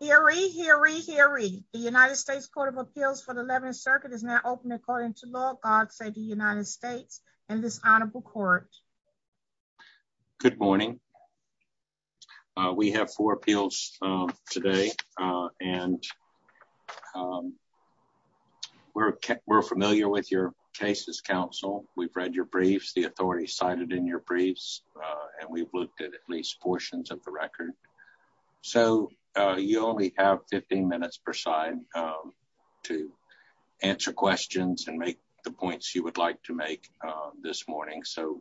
Hear, hear, hear, the United States Court of Appeals for the 11th Circuit is now open according to law. God save the United States and this honorable court. Good morning. We have four appeals today and we're familiar with your cases, counsel. We've read your briefs, the authority cited in your briefs, and we've looked at at least portions of the record. So you only have 15 minutes per side to answer questions and make the points you would like to make this morning. So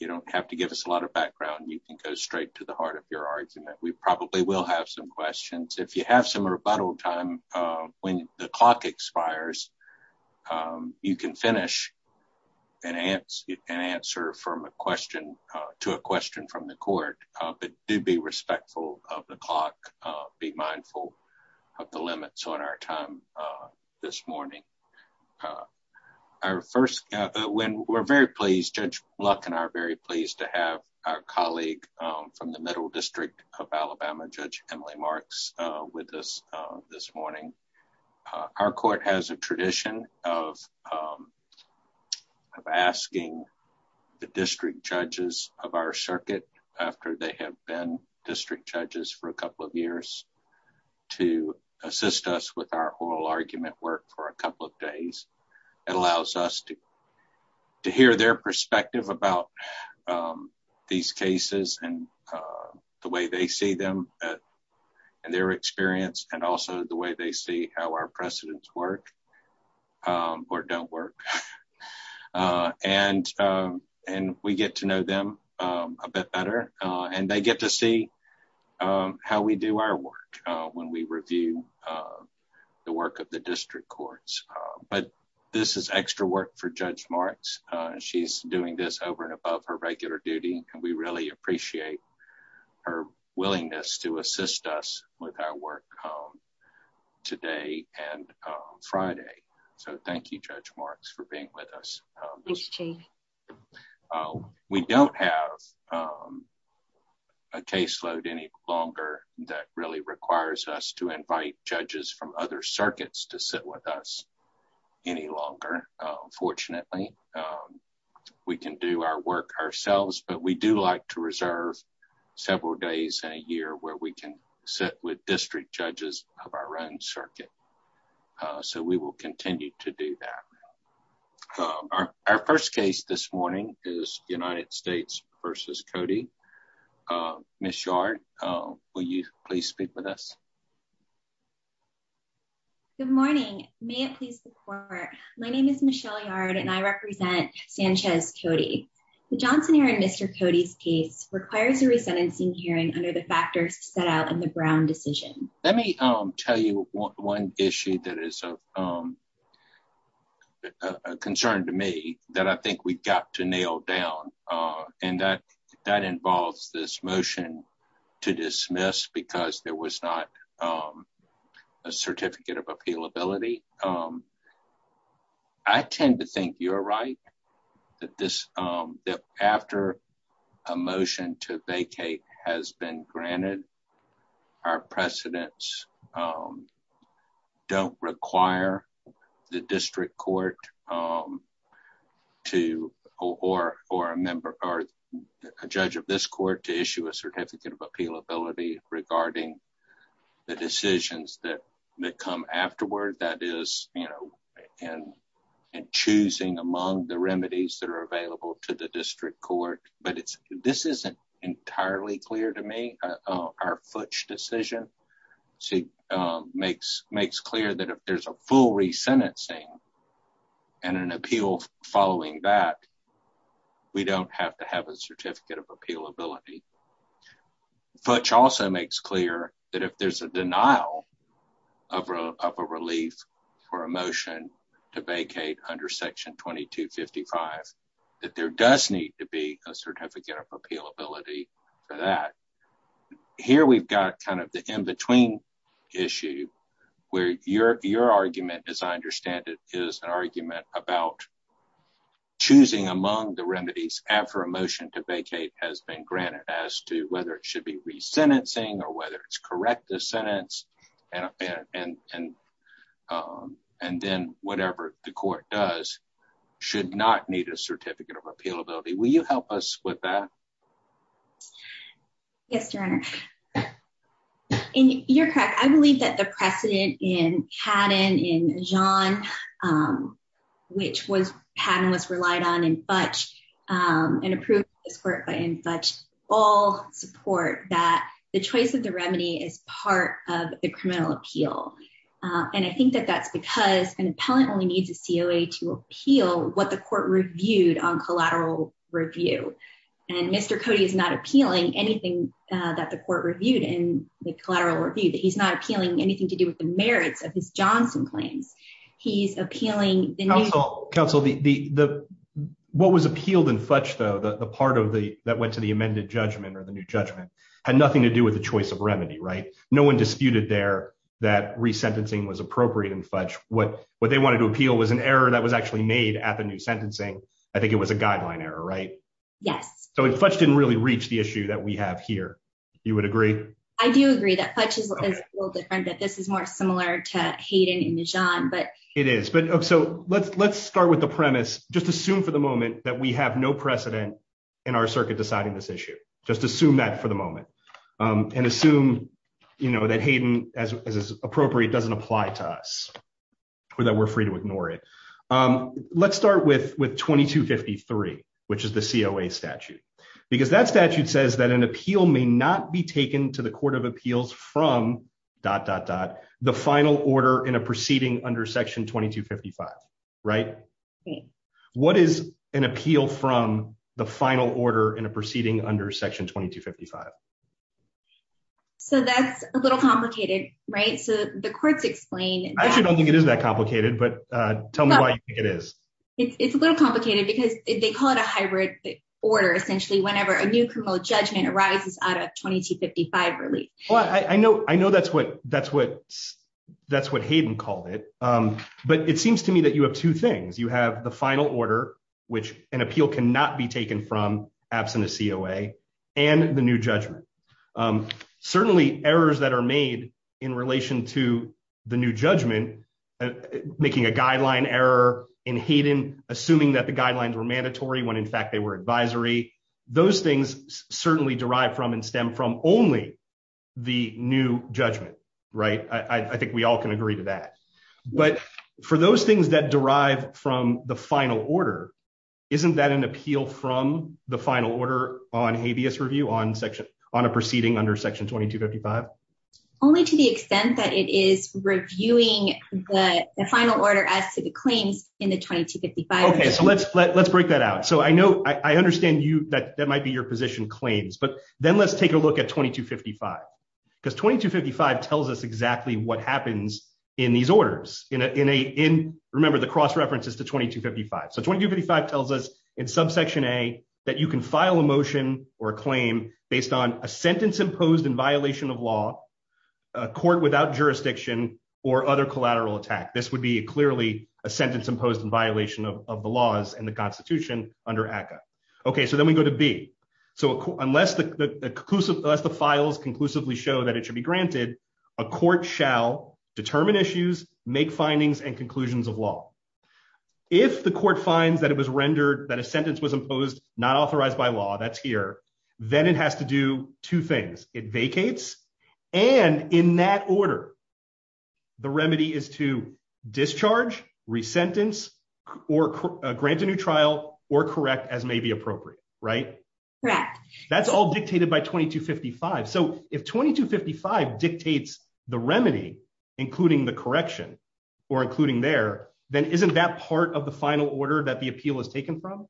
you don't have to give us a lot of background. You can go straight to the heart of your argument. We probably will have some questions. If you have some rebuttal time, when the clock expires, you can finish and answer from a question to a question from the court, but do be respectful of the clock. Be mindful of the limits on our time this morning. When we're very pleased, Judge Luck and I are very pleased to have our colleague from the Middle District of Alabama, Judge Emily Marks, with us this morning. Our court has a tradition of asking the district judges of our circuit, after they have been district judges for a couple of years, to assist us with our oral argument work for a couple of days. It allows us to hear their perspective about these cases and the way they see them and their experience, and also the way they see how our precedents work or don't work. And we get to know them a bit better, and they get to see how we do our work when we review the work of the district courts. But this is extra work for Judge Marks. She's doing this over and above her regular duty, and we really appreciate her willingness to assist us with our work today and Friday. So thank you, Judge Marks, for being with us. We don't have a caseload any longer that really requires us to invite judges from other circuits to sit with us any longer, fortunately. We can do our work ourselves, but we do like to reserve several days in a year where we can sit with district judges of our own circuit. So we will continue to do that. Our first case this morning is United States v. Cody. Ms. Yard, will you please speak with us? Good morning. May it please the court, my name is Michelle Yard, and I represent Sanchez-Cody. The Johnson-Heron-Mr. Cody's case requires a resentencing hearing under the factors set out in the Brown decision. Let me tell you one issue that is a concern to me that I think we've got to nail down, and that involves this motion to dismiss because there was not a certificate of appealability. I tend to think you're right that after a motion to vacate has been granted, our precedents don't require the district court to, or a judge of this court, to issue a certificate of appealability regarding the decisions that come afterward, that is in choosing among the remedies that are available to the district court, but this isn't entirely clear to me. Our Futch decision makes clear that if there's a full resentencing and an appeal following that, we don't have to have a certificate of appealability. Futch also makes clear that if there does need to be a certificate of appealability for that, here we've got kind of the in-between issue where your argument, as I understand it, is an argument about choosing among the remedies after a motion to vacate has been granted as to whether it should be resentencing or whether it's corrective sentence, and then whatever the court does should not need a certificate of appealability. Will you help us with that? Yes, Your Honor. You're correct. I believe that the precedent in Padden, in Jeanne, which Padden was relied on in Futch and approved by this court in Futch, all support that the choice of the remedy is part of the criminal appeal, and I think that that's because an what the court reviewed on collateral review, and Mr. Cody is not appealing anything that the court reviewed in the collateral review, that he's not appealing anything to do with the merits of his Johnson claims. He's appealing... Counsel, what was appealed in Futch, though, the part that went to the amended judgment or the new judgment, had nothing to do with the choice of remedy, right? No one disputed there that resentencing was appropriate in Futch. What they wanted to at the new sentencing, I think it was a guideline error, right? Yes. So if Futch didn't really reach the issue that we have here, you would agree? I do agree that Futch is a little different, that this is more similar to Hayden and Jeanne, but... It is, but so let's start with the premise. Just assume for the moment that we have no precedent in our circuit deciding this issue. Just assume that for the moment, and assume, you know, that Hayden, as is appropriate, doesn't apply to us, or that we're free to ignore it. Let's start with 2253, which is the COA statute, because that statute says that an appeal may not be taken to the court of appeals from the final order in a proceeding under section 2255, right? What is an appeal from the final order in a proceeding under section 2255? So that's a little complicated, right? So the courts explain... I actually don't think it is that complicated, but tell me why you think it is. It's a little complicated because they call it a hybrid order, essentially, whenever a new criminal judgment arises out of 2255 relief. Well, I know that's what Hayden called it, but it seems to me that you have two things. You have the final order, which an appeal cannot be to the new judgment, making a guideline error in Hayden, assuming that the guidelines were mandatory when, in fact, they were advisory. Those things certainly derive from and stem from only the new judgment, right? I think we all can agree to that, but for those things that derive from the final order, isn't that an appeal from the final order on habeas review on a proceeding under 2255? Only to the extent that it is reviewing the final order as to the claims in the 2255. Okay, so let's break that out. So I understand that might be your position claims, but then let's take a look at 2255 because 2255 tells us exactly what happens in these orders. Remember, the cross reference is to 2255. So 2255 tells us in subsection A that you can file a motion or a claim based on a sentence imposed in violation of law, a court without jurisdiction, or other collateral attack. This would be clearly a sentence imposed in violation of the laws in the Constitution under ACCA. Okay, so then we go to B. So unless the files conclusively show that it should be granted, a court shall determine issues, make findings, and conclusions of law. If the court finds that a sentence was imposed not authorized by law, that's here, then it has to do two things. It vacates, and in that order, the remedy is to discharge, resentence, or grant a new trial, or correct as may be appropriate, right? Correct. That's all dictated by 2255. So if 2255 dictates the remedy, including the correction, or including there, then isn't that part of the final order that the appeal is taken from?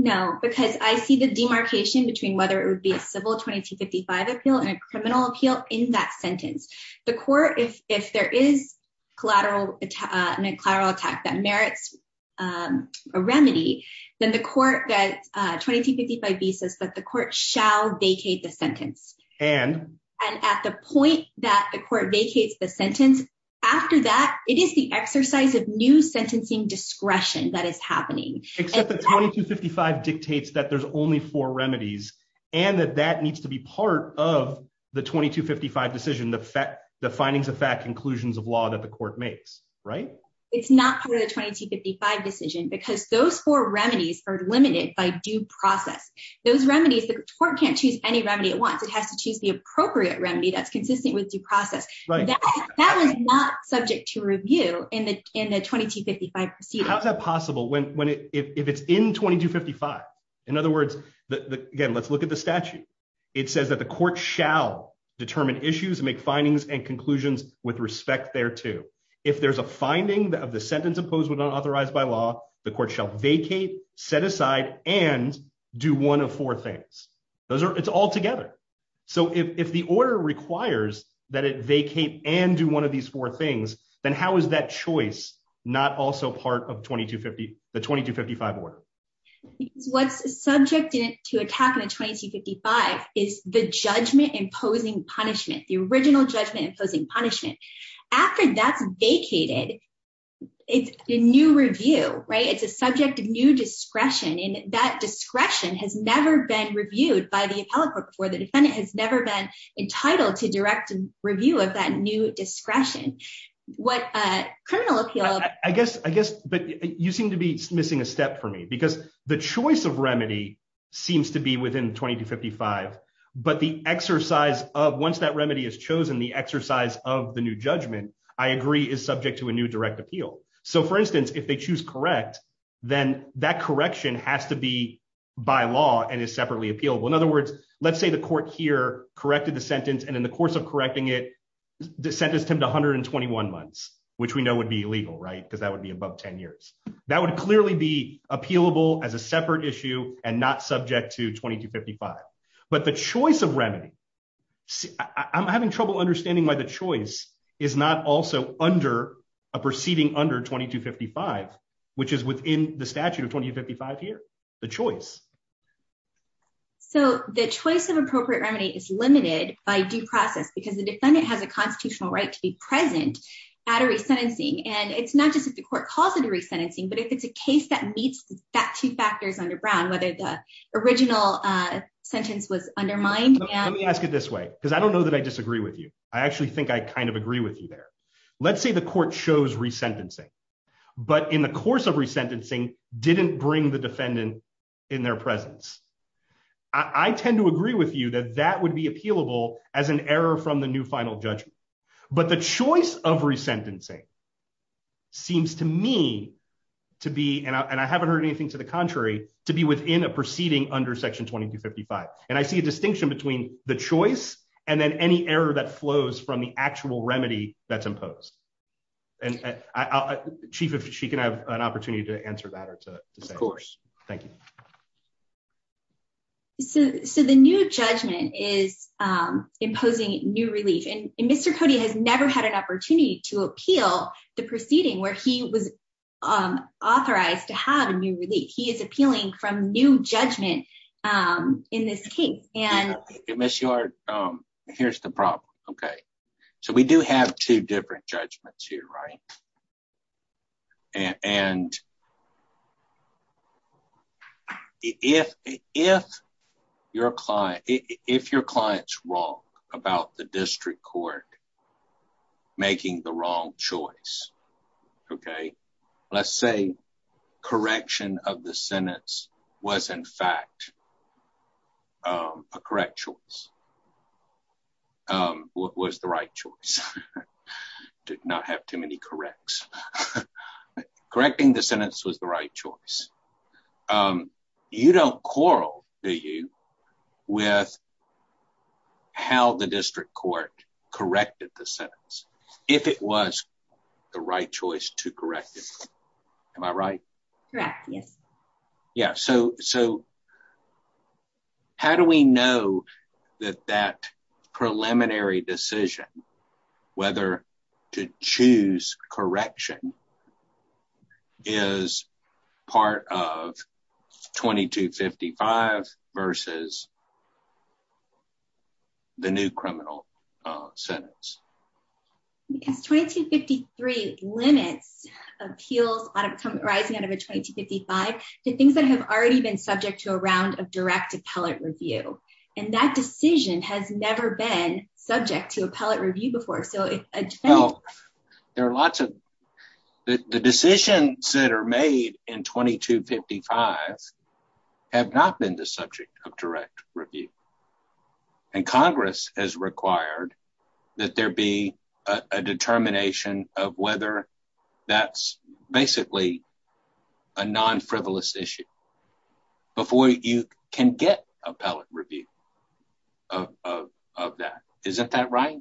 No, because I see the demarcation between whether it would be a civil 2255 appeal and a criminal appeal in that sentence. The court, if there is collateral attack that merits a remedy, then the court that 2255B says that the court shall vacate the sentence. And? And at the point that the court vacates the sentence, after that, it is the exercise of new Except that 2255 dictates that there's only four remedies, and that that needs to be part of the 2255 decision, the findings of fact, conclusions of law that the court makes, right? It's not part of the 2255 decision, because those four remedies are limited by due process. Those remedies, the court can't choose any remedy at once. It has to choose the appropriate remedy that's consistent with due process. That was not subject to review in the 2255 proceedings. How is that possible when, if it's in 2255? In other words, again, let's look at the statute. It says that the court shall determine issues and make findings and conclusions with respect thereto. If there's a finding of the sentence imposed without authorized by law, the court shall vacate, set aside, and do one of four things. Those are, it's all together. So if the order requires that it vacate and do one of these four things, then how is that choice not also part of the 2255 order? What's subject to attack in the 2255 is the judgment-imposing punishment, the original judgment-imposing punishment. After that's vacated, it's a new review, right? It's a subject of new discretion, and that discretion has never been reviewed by the appellate court before. The defendant has never been entitled to direct review of that new discretion. What a criminal appeal- I guess, but you seem to be missing a step for me, because the choice of remedy seems to be within 2255, but the exercise of, once that remedy is chosen, the exercise of the new judgment, I agree, is subject to a new direct appeal. So for instance, if they choose correct, then that correction has to be by law and is separately appealable. In other words, let's say the court here corrected the sentence, and in the course of correcting it, sentenced him to 121 months, which we know would be illegal, right? Because that would be above 10 years. That would clearly be appealable as a separate issue and not subject to 2255. But the choice of remedy- I'm having trouble understanding why the choice is not also under a proceeding under 2255, which is within the statute of 2255 here, the choice. So the choice of appropriate constitutional right to be present at a resentencing, and it's not just if the court calls it a resentencing, but if it's a case that meets that two factors under Brown, whether the original sentence was undermined. Let me ask it this way, because I don't know that I disagree with you. I actually think I kind of agree with you there. Let's say the court chose resentencing, but in the course of resentencing, didn't bring the defendant in their presence. I tend to agree with you that that would be appealable as an error from the new final judgment. But the choice of resentencing seems to me to be, and I haven't heard anything to the contrary, to be within a proceeding under section 2255. And I see a distinction between the choice and then any error that flows from the actual remedy that's imposed. Chief, if she can have an opportunity to answer that. Of course. Thank you. So the new judgment is imposing new relief. And Mr. Cody has never had an opportunity to appeal the proceeding where he was authorized to have a new relief. He is appealing from new judgment in this case. And Ms. Yard, here's the problem. Okay. So we do have two different judgments here, right? And if your client's wrong about the district court making the wrong choice, okay, let's say correction of the sentence was in fact a correct choice, was the right choice. Did not have too many corrects. Correcting the sentence was the right choice. You don't quarrel, do you, with how the district court corrected the sentence if it was the right choice to correct it? Am I right? Correct. Yes. Yeah. So how do we know that that preliminary decision, whether to choose correction, is part of 2255 versus the new criminal sentence? Because 2253 limits appeals arising out of a 2255 to things that have already been subject to a round of direct appellate review. And that decision has never been subject to appellate review before. So there are lots of, the decisions that are made in 2255 have not been the subject of direct review. And Congress has required that there be a determination of whether that's basically a non-frivolous issue before you can get appellate review of that. Is that right?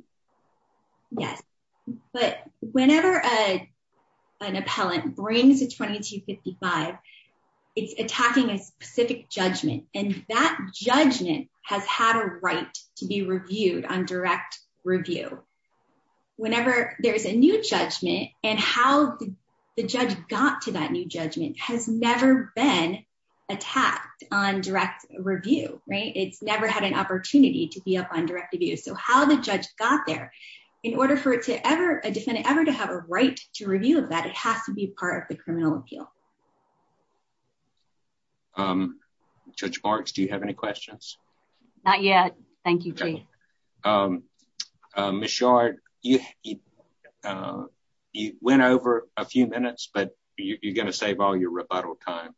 Yes. But whenever an appellant brings a 2255, it's attacking a specific judgment. And that judgment has had a right to be reviewed on direct review. Whenever there's a new judgment and how the judge got to that new judgment has never been attacked on direct review. It's never had an opportunity to be up on direct review. So how the judge got there in order for a defendant ever to have a right to review of that, it has to be part of the criminal appeal. Judge Marks, do you have any questions? Not yet. Thank you, Jay. Ms. Shard, you went over a few minutes, but you're going to save all your rebuttal time.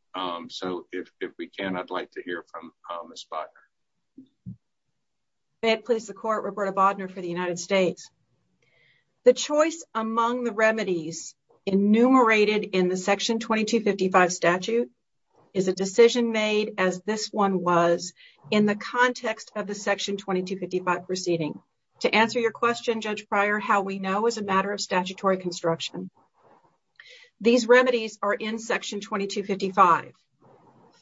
So if we can, I'd like to hear from Ms. Bodnar. May it please the court, Roberta Bodnar for the United States. The choice among the remedies enumerated in the Section 2255 statute is a decision made as this one was in the context of the Section 2255 proceeding. To answer your question, Judge Pryor, how we know is a matter of statutory construction. These remedies are in Section 2255.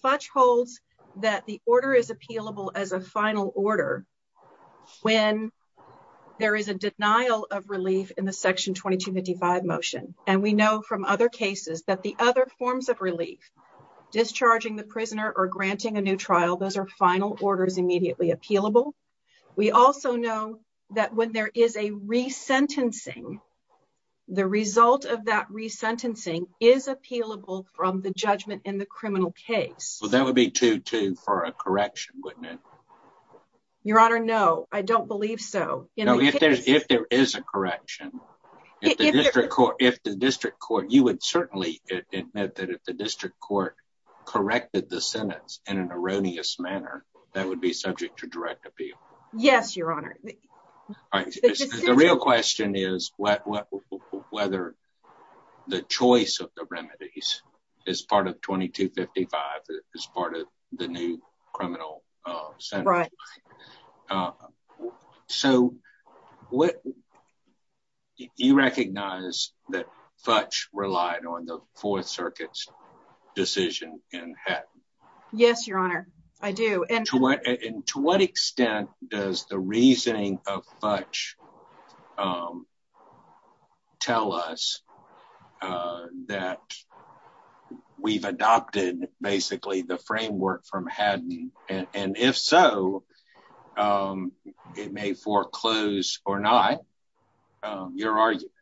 FUDGE holds that the order is appealable as a final order when there is a denial of relief in the Section 2255 motion. And we know from other cases that the other forms of relief, discharging the prisoner or granting a new trial, those are final orders immediately appealable. We also know that when there is a resentencing, the result of that resentencing is appealable from the judgment in the criminal case. Well, that would be 2-2 for a correction, wouldn't it? Your Honor, no, I don't believe so. If there is a correction, if the district court, you would certainly admit that if the district court corrected the sentence in an erroneous manner, that would be subject to direct appeal. Yes, Your Honor. The real question is whether the choice of the remedies as part of 2255, as part of the new criminal sentence. So, you recognize that FUDGE relied on the Fourth Circuit's decision in Hatton? Yes, Your Honor, I do. And to what extent does the reasoning of FUDGE tell us that we've adopted, basically, the framework from Hatton? And if so, it may foreclose or not.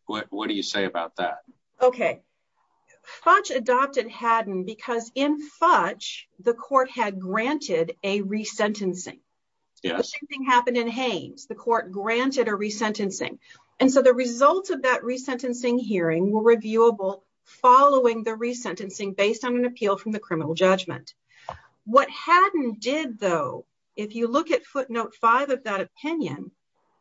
What do you say about that? Okay. FUDGE adopted Hatton because in FUDGE, the court had granted a resentencing. The same thing happened in Haines. The court granted a resentencing. And so, the results of that resentencing hearing were reviewable following the resentencing based on an appeal from the criminal judgment. What Hatton did, though, if you look at footnote 5 of that opinion,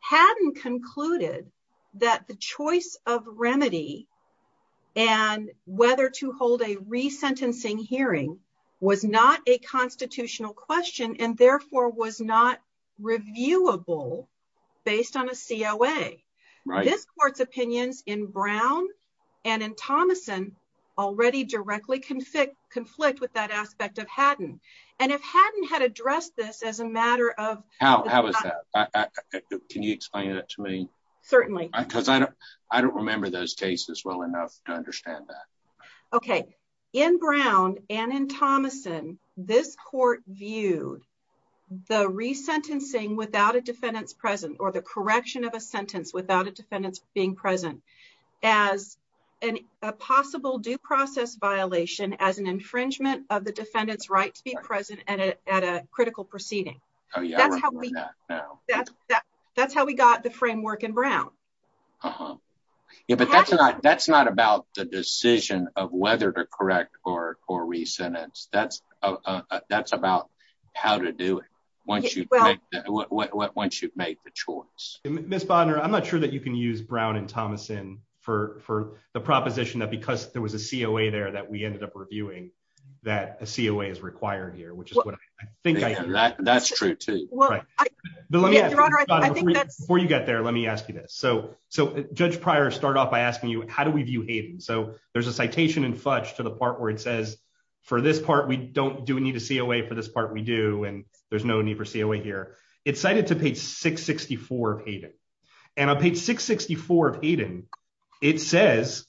Hatton concluded that the choice of remedy and whether to hold a resentencing hearing was not a constitutional question and therefore was not reviewable based on a COA. This court's opinions in Brown and in Thomason already directly conflict with that aspect of Hatton. And if Hatton had addressed this as a matter of... How was that? Can you explain it to me? Certainly. Because I don't remember those cases well enough to understand that. Okay. In Brown and in Thomason, this court viewed the resentencing without a defendant's presence or the correction of a sentence without a defendant's being present as a possible due present at a critical proceeding. That's how we got the framework in Brown. Yeah, but that's not about the decision of whether to correct or resentence. That's about how to do it once you've made the choice. Ms. Bodner, I'm not sure that you can use Brown and Thomason for the proposition that because there was a COA there that we ended up reviewing that a COA is required here, which is what I think I hear. That's true too. Before you get there, let me ask you this. So Judge Pryor started off by asking you, how do we view Hatton? So there's a citation in Fudge to the part where it says, for this part, we don't need a COA, for this part we do, and there's no need for COA here. It's cited to page 664 of Hatton. And on page 664 of Hatton, it says,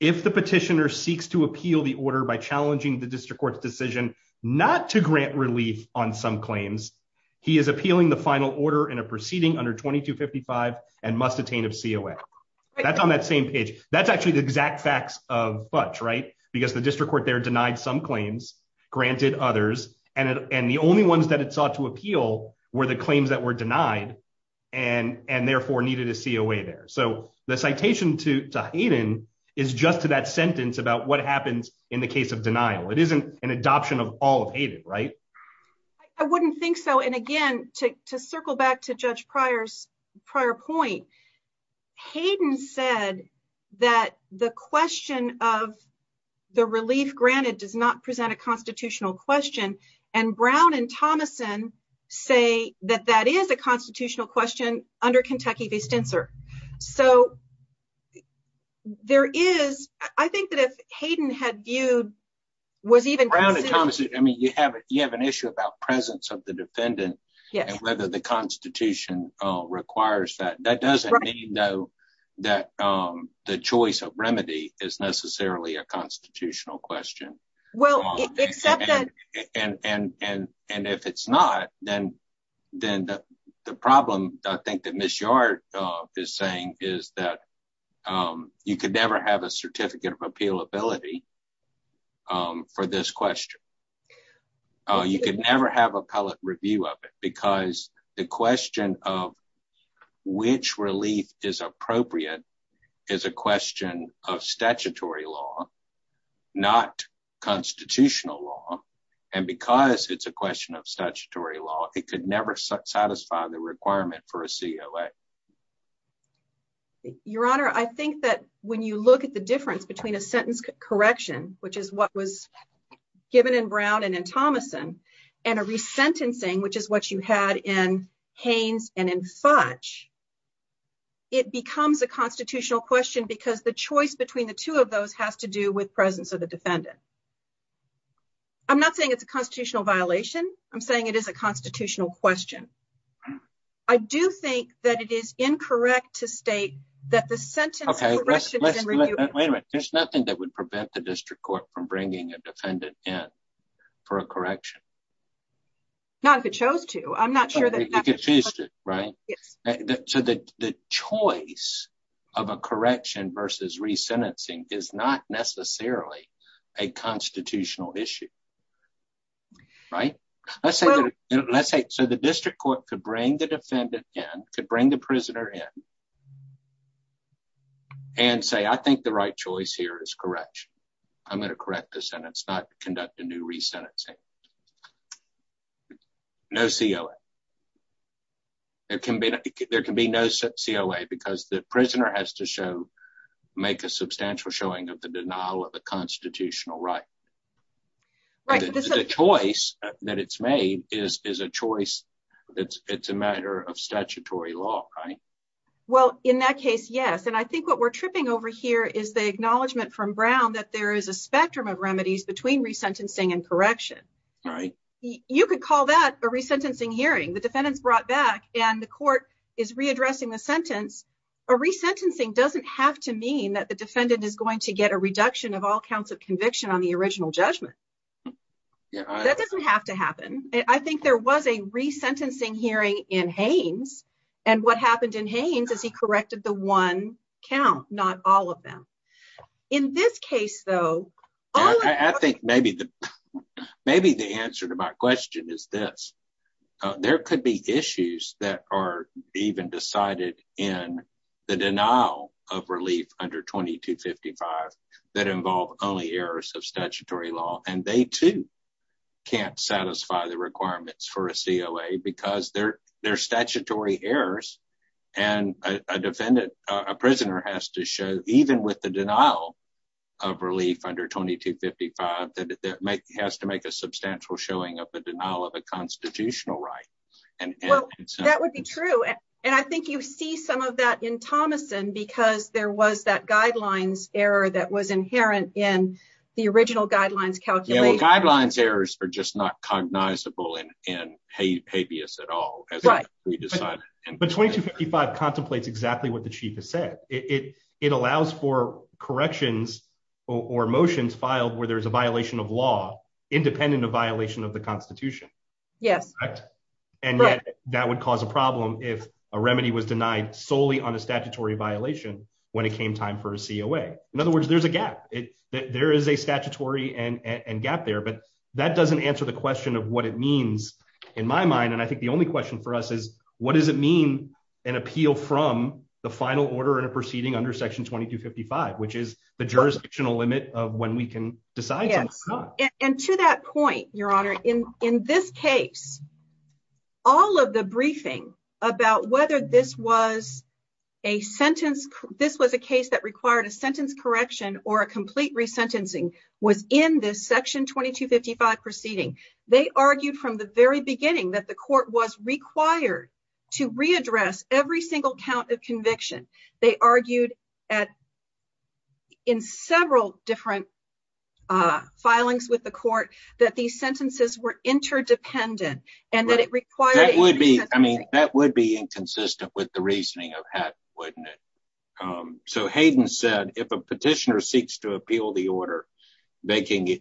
if the petitioner seeks to appeal the order by challenging the district court's decision not to grant relief on some claims, he is appealing the final order in a proceeding under 2255 and must attain a COA. That's on that same page. That's actually the exact facts of Fudge, right? Because the district court there denied some claims, granted others, and the only that it sought to appeal were the claims that were denied and therefore needed a COA there. So the citation to Hatton is just to that sentence about what happens in the case of denial. It isn't an adoption of all of Hatton, right? I wouldn't think so. And again, to circle back to Judge Pryor's point, Hatton said that the question of the relief granted does not present a constitutional question. Brown and Thomason say that that is a constitutional question under Kentucky v. Stenser. So there is, I think that if Hayden had viewed, was even Brown and Thomason, I mean, you have an issue about presence of the defendant and whether the constitution requires that. That doesn't mean, though, that the choice of remedy is necessarily a constitutional question. And if it's not, then the problem I think that Ms. Yard is saying is that you could never have a certificate of appealability for this question. You could never have appellate review of it because the question of which relief is appropriate is a question of statutory law, not constitutional law. And because it's a question of statutory law, it could never satisfy the requirement for a COA. Your Honor, I think that when you look at the difference between a sentence correction, which is what was given in Brown and in Thomason, and a resentencing, which is what you had in Haynes and in Fudge, it becomes a constitutional question because the choice between the two of those has to do with presence of the defendant. I'm not saying it's a constitutional violation. I'm saying it is a constitutional question. I do think that it is incorrect to state that the sentence correction can review. Wait a minute. There's nothing that would prevent the district court from bringing a defendant in for a correction. Not if it chose to. I'm not sure that. You confused it, so that the choice of a correction versus resentencing is not necessarily a constitutional issue. The district court could bring the defendant in, could bring the prisoner in, and say, I think the right choice here is correction. I'm going to correct the sentence, not conduct a new resentencing. No COA. There can be no COA because the prisoner has to make a substantial showing of the denial of a constitutional right. The choice that it's made is a matter of statutory law, right? Well, in that case, yes. I think what we're tripping over here is the acknowledgement from correction. You could call that a resentencing hearing. The defendant's brought back, and the court is readdressing the sentence. A resentencing doesn't have to mean that the defendant is going to get a reduction of all counts of conviction on the original judgment. That doesn't have to happen. I think there was a resentencing hearing in Haines, and what happened in Haines is he corrected the one count, not all of them. In this case, all of them. I think maybe the answer to my question is this. There could be issues that are even decided in the denial of relief under 2255 that involve only errors of statutory law. They, too, can't satisfy the requirements for a COA because they're statutory errors, and a prisoner has to show, even with the denial of relief under 2255, has to make a substantial showing of the denial of a constitutional right. That would be true, and I think you see some of that in Thomason because there was that guidelines error that was inherent in the original guidelines calculation. Guidelines errors are just not cognizable in habeas at all. But 2255 contemplates exactly what the Chief has said. It allows for corrections or motions filed where there's a violation of law independent of violation of the Constitution. And yet, that would cause a problem if a remedy was denied solely on a statutory violation when it came time for a COA. In other words, there's a gap. There is a statutory gap there, but that only question for us is, what does it mean an appeal from the final order and a proceeding under section 2255, which is the jurisdictional limit of when we can decide something or not. And to that point, Your Honor, in this case, all of the briefing about whether this was a sentence, this was a case that required a sentence correction or a complete resentencing was in this section 2255 proceeding. They argued from the very beginning that the court was required to readdress every single count of conviction. They argued in several different filings with the court that these sentences were interdependent. That would be inconsistent with the reasoning of Hatton, wouldn't it? So Hayden said, if a petitioner seeks to appeal the order vacating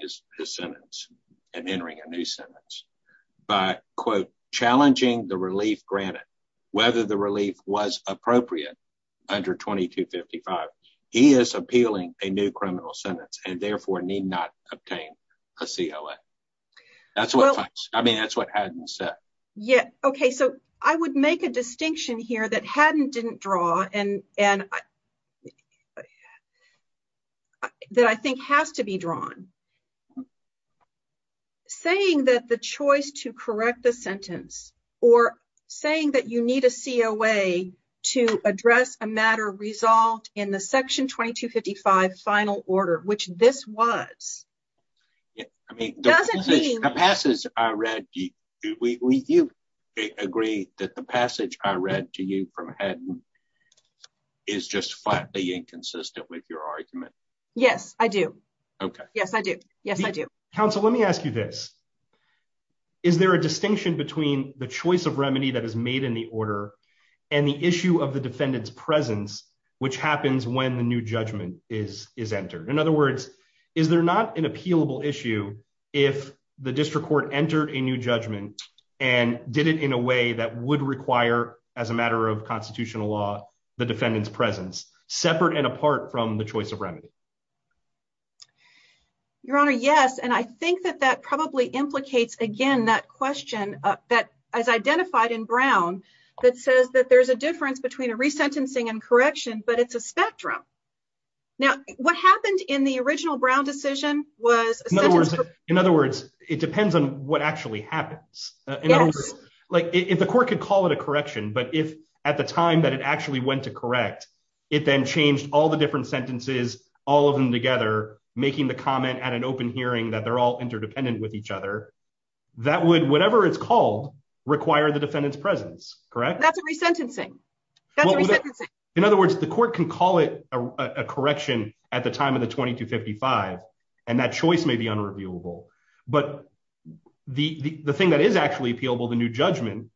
his sentence and entering a new sentence by, quote, challenging the relief granted, whether the relief was appropriate under 2255, he is appealing a new criminal sentence and therefore need not obtain a COA. I mean, that's what Hatton said. Okay, so I would make a distinction here that Hatton didn't draw, and that I think has to be drawn. Saying that the choice to correct the sentence or saying that you need a COA to address a matter resolved in the section 2255 final order, which this was, doesn't mean... Do you agree that the passage I read to you from Hatton is just flatly inconsistent with your argument? Yes, I do. Okay. Yes, I do. Yes, I do. Counsel, let me ask you this. Is there a distinction between the choice of remedy that is made in the order and the issue of the defendant's presence, which happens when the new judgment is entered? In other words, is there not an appealable issue if the district court entered a new judgment and did it in a way that would require, as a matter of constitutional law, the defendant's presence, separate and apart from the choice of remedy? Your Honor, yes, and I think that that probably implicates, again, that question that is identified in Brown that says that there's a difference between a resentencing and correction, but it's a spectrum. Now, what happened in the original Brown decision was... In other words, it depends on what actually happens. If the court could call it a correction, but if at the time that it actually went to correct, it then changed all the different sentences, all of them together, making the comment at an open hearing that they're all interdependent with each other, that would, whatever it's called, require the defendant's presence, correct? That's a resentencing. In other words, the court can call it a correction at the time of the 2255, and that choice may be unreviewable, but the thing that is actually appealable, the new judgment,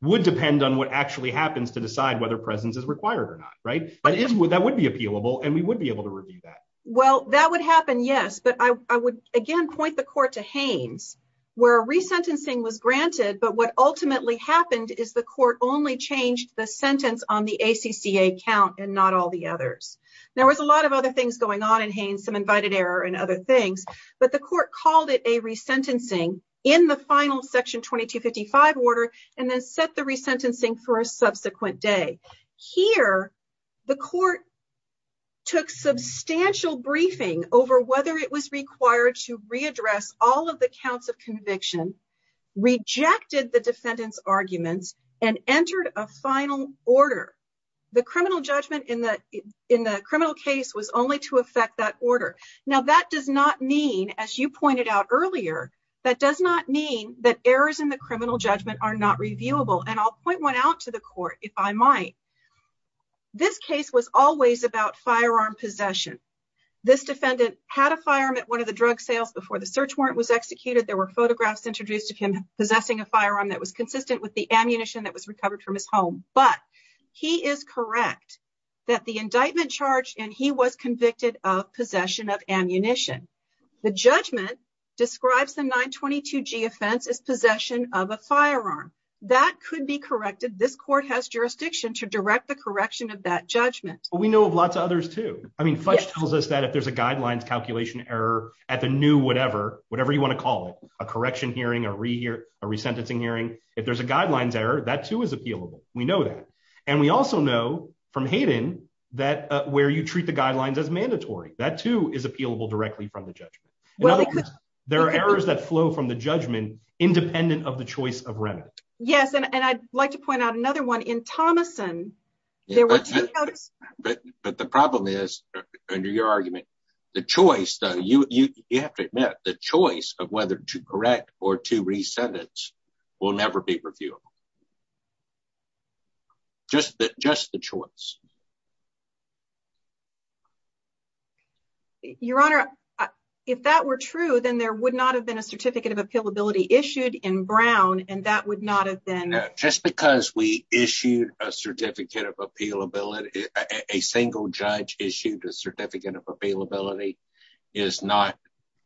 would depend on what actually happens to decide whether presence is required or not, right? But that would be appealable, and we would be able to review that. Well, that would happen, yes, but I would, again, point the court to Haynes, where a resentencing was granted, but what ultimately happened is the court only changed the sentence on the ACCA count and not all the others. There was a lot of other things going on in Haynes, some invited error and other things, but the court called it a resentencing in the final section 2255 order and then set the resentencing for a subsequent day. Here, the court took substantial briefing over whether it was required to readdress all of the counts of conviction, rejected the defendant's arguments, and entered a final order. The criminal judgment in the criminal case was only to affect that order. Now, that does not mean, as you pointed out earlier, that does not mean that errors in the criminal judgment are not reviewable, and I'll point one out to the court if I might. This case was always about firearm possession. This defendant had a firearm at one of the drug sales before the search warrant was executed. There were photographs introduced of him possessing a firearm that was consistent with the ammunition that was recovered from his home, but he is correct that the indictment charged and he was convicted of possession of ammunition. The judgment describes the 922g offense as firearm possession. That could be corrected. This court has jurisdiction to direct the correction of that judgment. We know of lots of others too. I mean, Fudge tells us that if there's a guidelines calculation error at the new whatever, whatever you want to call it, a correction hearing, a resentencing hearing, if there's a guidelines error, that too is appealable. We know that, and we also know from Hayden that where you treat the guidelines as mandatory, that too is appealable directly from the judgment. In other words, there are errors that flow from the judgment independent of the choice of remit. Yes, and I'd like to point out another one in Thomason. But the problem is, under your argument, the choice, you have to admit, the choice of whether to correct or to resentence will never be reviewable. Just the choice. Your Honor, if that were true, then there would not have been a certificate of appealability issued in Brown, and that would not have been... Just because we issued a certificate of appealability, a single judge issued a certificate of appealability, is not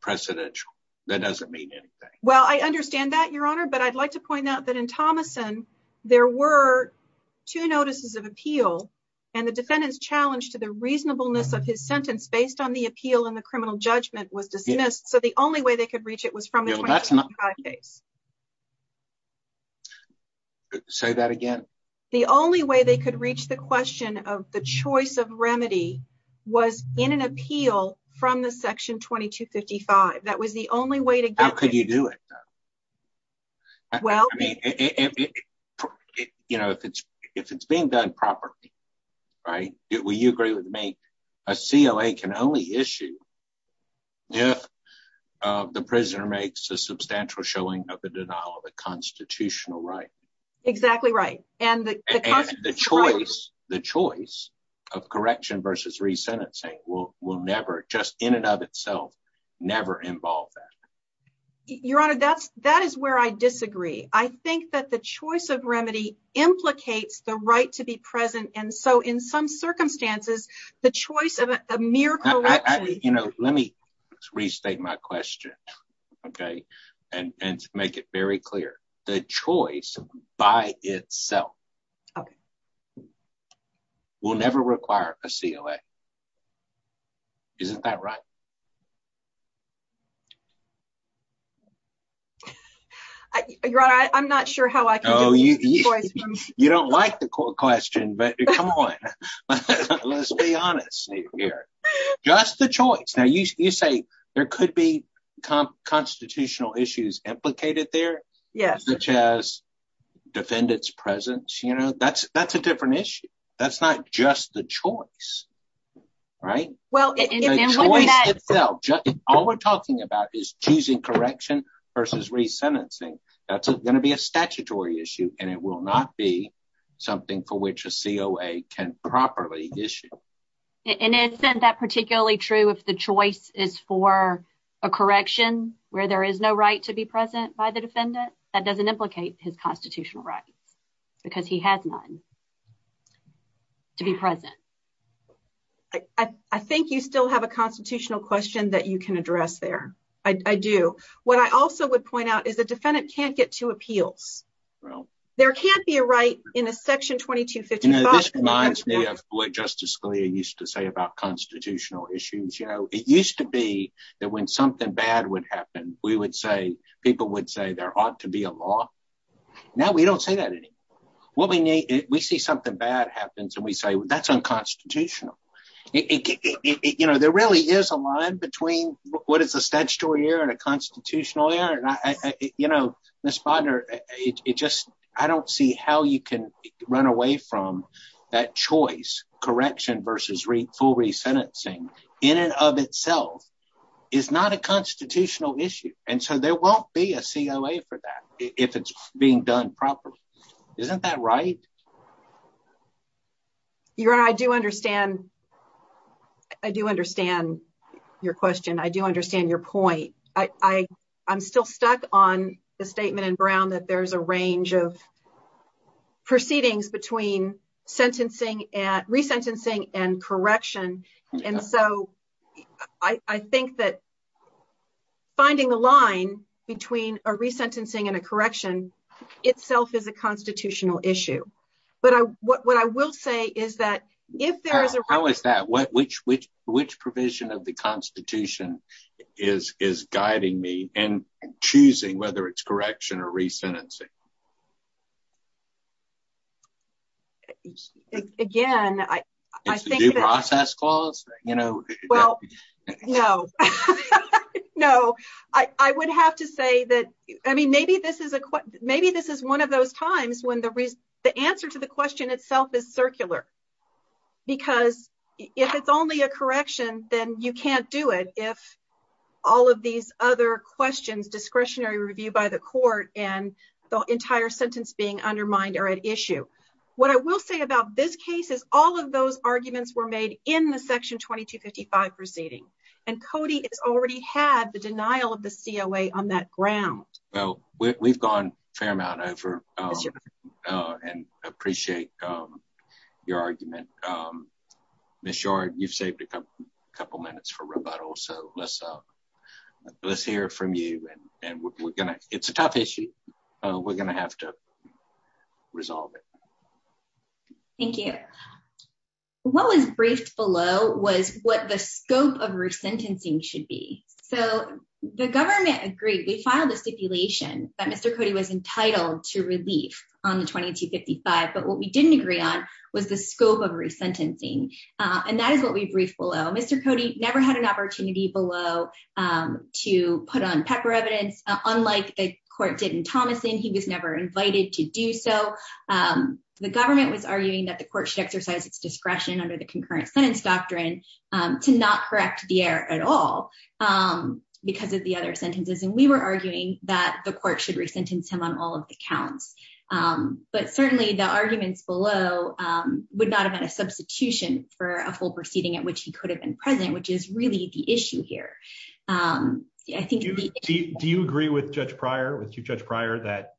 precedential. That doesn't mean anything. Well, I understand that, Your Honor, but I'd like to point out that in Thomason, there were two notices of appeal. One was issued in Brown, and the defendant's challenge to the reasonableness of his sentence based on the appeal and the criminal judgment was dismissed, so the only way they could reach it was from the 2255 case. Say that again. The only way they could reach the question of the choice of remedy was in an appeal from the section 2255. That was the only way to get... How could you do it, though? If it's being done properly, will you agree with me, a COA can only issue if the prisoner makes a substantial showing of the denial of a constitutional right. Exactly right. And the choice of correction versus resentencing will never, just in and of itself, never involve that. Your Honor, that is where I disagree. I think that the choice of remedy implicates the right to be present, and so in some circumstances, the choice of a mere correction... Let me restate my question and make it very clear. The choice by itself will never require a COA. Isn't that right? Your Honor, I'm not sure how I can... Oh, you don't like the question, but come on. Let's be honest here. Just the choice. Now, you say there could be constitutional issues implicated there, such as defendant's presence. That's a different issue. That's not just the choice, right? The choice itself. All we're talking about is choosing correction versus resentencing. That's going to be a statutory issue, and it will not be something for which a COA can properly issue. And isn't that particularly true if the choice is for a correction where there is no right to be present by the defendant? That doesn't implicate his constitutional rights because he has none to be present. I think you still have a constitutional question that you can address there. I do. What I also would point out is the defendant can't get to appeals. There can't be a right in a section 2255. This reminds me of what Justice Scalia used to say about constitutional issues. It used to be that when something bad would happen, people would say there ought to be a law. Now, we don't say that anymore. We see something bad happens, and we say, that's unconstitutional. There really is a line between what is a statutory error and a constitutional error. Ms. Bodnar, I don't see how you can run away from that choice. Correction versus full resentencing in and of itself is not a constitutional issue, and so there won't be a COA for that if it's being done properly. Isn't that right? Your Honor, I do understand your question. I do understand your point. I'm still stuck on the statement in Brown that there's a range of proceedings between resentencing and correction, and so I think that finding a line between a resentencing and a correction itself is a constitutional issue. How is that? Which provision of the Constitution is guiding me in choosing whether it's correction or resentencing? Again, I think... Is it due process clause? Well, no. I would have to say that maybe this is one of those times when the answer to the all of these other questions, discretionary review by the court, and the entire sentence being undermined are at issue. What I will say about this case is all of those arguments were made in the Section 2255 proceeding, and Cody has already had the denial of the COA on that ground. Well, we've gone a fair amount over and appreciate your argument. Ms. Yard, you've saved a couple minutes for rebuttal, so let's hear from you. It's a tough issue. We're going to have to resolve it. Thank you. What was briefed below was what the scope of resentencing should be. The government agreed. We filed a stipulation that Mr. Cody was entitled to relief on the 2255, but what we didn't agree on was the scope of resentencing. Mr. Cody never had an opportunity below to put on pepper evidence. Unlike the court did in Thomason, he was never invited to do so. The government was arguing that the court should exercise its discretion under the concurrent sentence doctrine to not correct the error at all because of the other sentences, and we were arguing that the court should resentence him on all of the which he could have been present, which is really the issue here. Do you agree with Judge Pryor that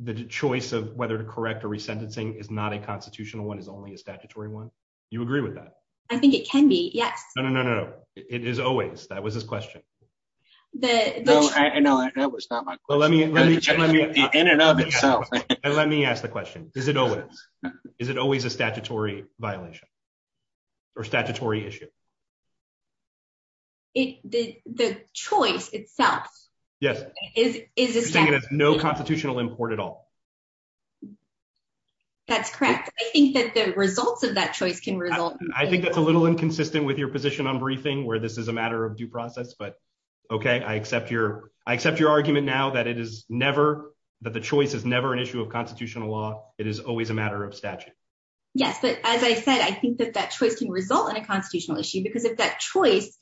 the choice of whether to correct or resentencing is not a constitutional one, is only a statutory one? Do you agree with that? I think it can be, yes. No, no, no, no. It is always. That was his question. No, that was not my question. Let me ask the question. Is it always? Statutory violation or statutory issue? The choice itself? Yes. No constitutional import at all. That's correct. I think that the results of that choice can result. I think that's a little inconsistent with your position on briefing where this is a matter of due process, but okay, I accept your argument now that the choice is never an issue of Yes, but as I said, I think that that choice can result in a constitutional issue because if that choice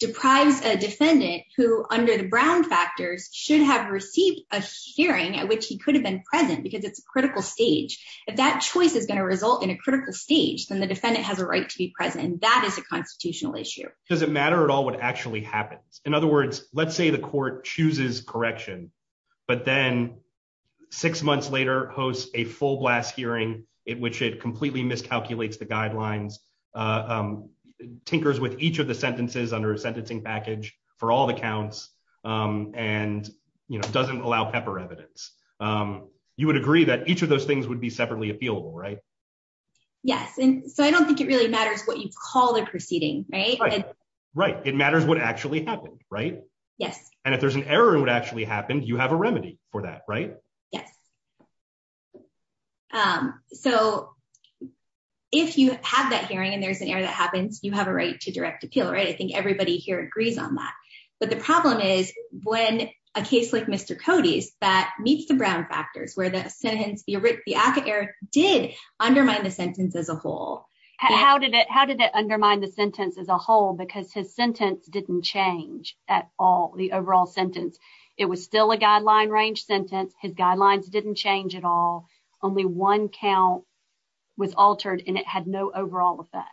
deprives a defendant who, under the Brown factors, should have received a hearing at which he could have been present because it's a critical stage. If that choice is going to result in a critical stage, then the defendant has a right to be present, and that is a constitutional issue. Does it matter at all what actually happens? In other words, let's say the court chooses correction, but then six months later hosts a full blast hearing in which it completely miscalculates the guidelines, tinkers with each of the sentences under a sentencing package for all the counts, and doesn't allow pepper evidence. You would agree that each of those things would be separately appealable, right? Yes, and so I don't think it really matters what you call the proceeding, right? Right. It matters what actually happened, right? Yes, and if there's an error in what actually happened, you have a remedy for that, right? Yes. So if you have that hearing and there's an error that happens, you have a right to direct appeal, right? I think everybody here agrees on that, but the problem is when a case like Mr. Cody's that meets the Brown factors where the sentence, the ACA error did undermine the sentence as a whole. How did it undermine the sentence as a whole because his sentence didn't change at all the overall sentence? It was still a guideline range sentence. His guidelines didn't change at all. Only one count was altered and it had no overall effect.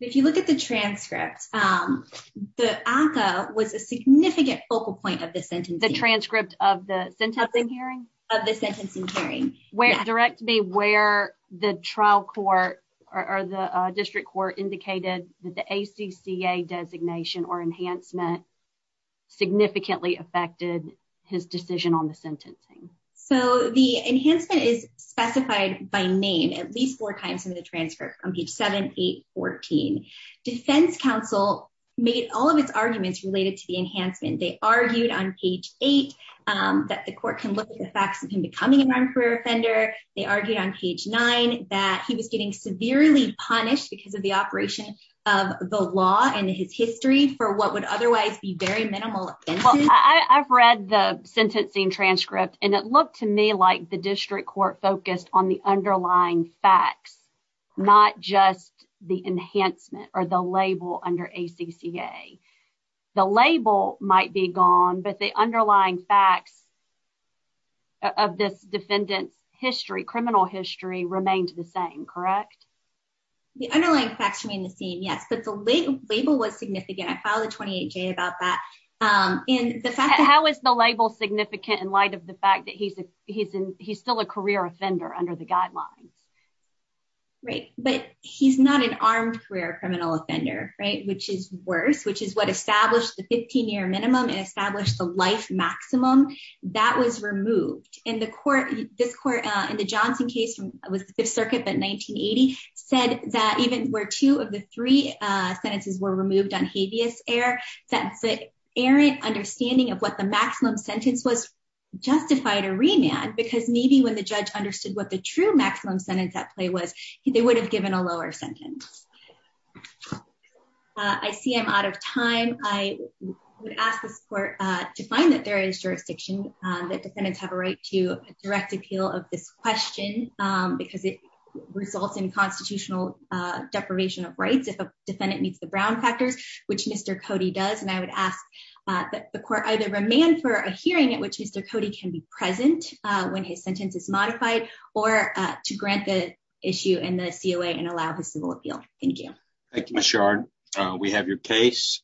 If you look at the transcript, the ACA was a significant focal point of the sentence. The transcript of the sentencing hearing? Of the sentencing hearing. Direct me where the trial court or the district court indicated that the ACCA designation or enhancement significantly affected his decision on the sentencing. So the enhancement is specified by name at least four times in the transcript on page 7, 8, 14. Defense counsel made all of its arguments related to the enhancement. They argued on page 8 that the court can look at the career offender. They argued on page 9 that he was getting severely punished because of the operation of the law and his history for what would otherwise be very minimal. I've read the sentencing transcript and it looked to me like the district court focused on the underlying facts, not just the enhancement or the label under ACCA. The label might be gone, but the underlying facts of this defendant's criminal history remained the same, correct? The underlying facts remain the same, yes, but the label was significant. I filed a 28-J about that. How is the label significant in light of the fact that he's still a career offender under the guidelines? Right, but he's not an armed career criminal offender, which is worse, which is what life maximum. That was removed. In the court, this court, in the Johnson case from the Fifth Circuit in 1980, said that even where two of the three sentences were removed on habeas air, that the errant understanding of what the maximum sentence was justified a remand, because maybe when the judge understood what the true maximum sentence at play was, they would have given a to find that there is jurisdiction, that defendants have a right to direct appeal of this question because it results in constitutional deprivation of rights if a defendant meets the Brown factors, which Mr. Cody does. And I would ask that the court either remand for a hearing at which Mr. Cody can be present when his sentence is modified or to grant the issue in the COA and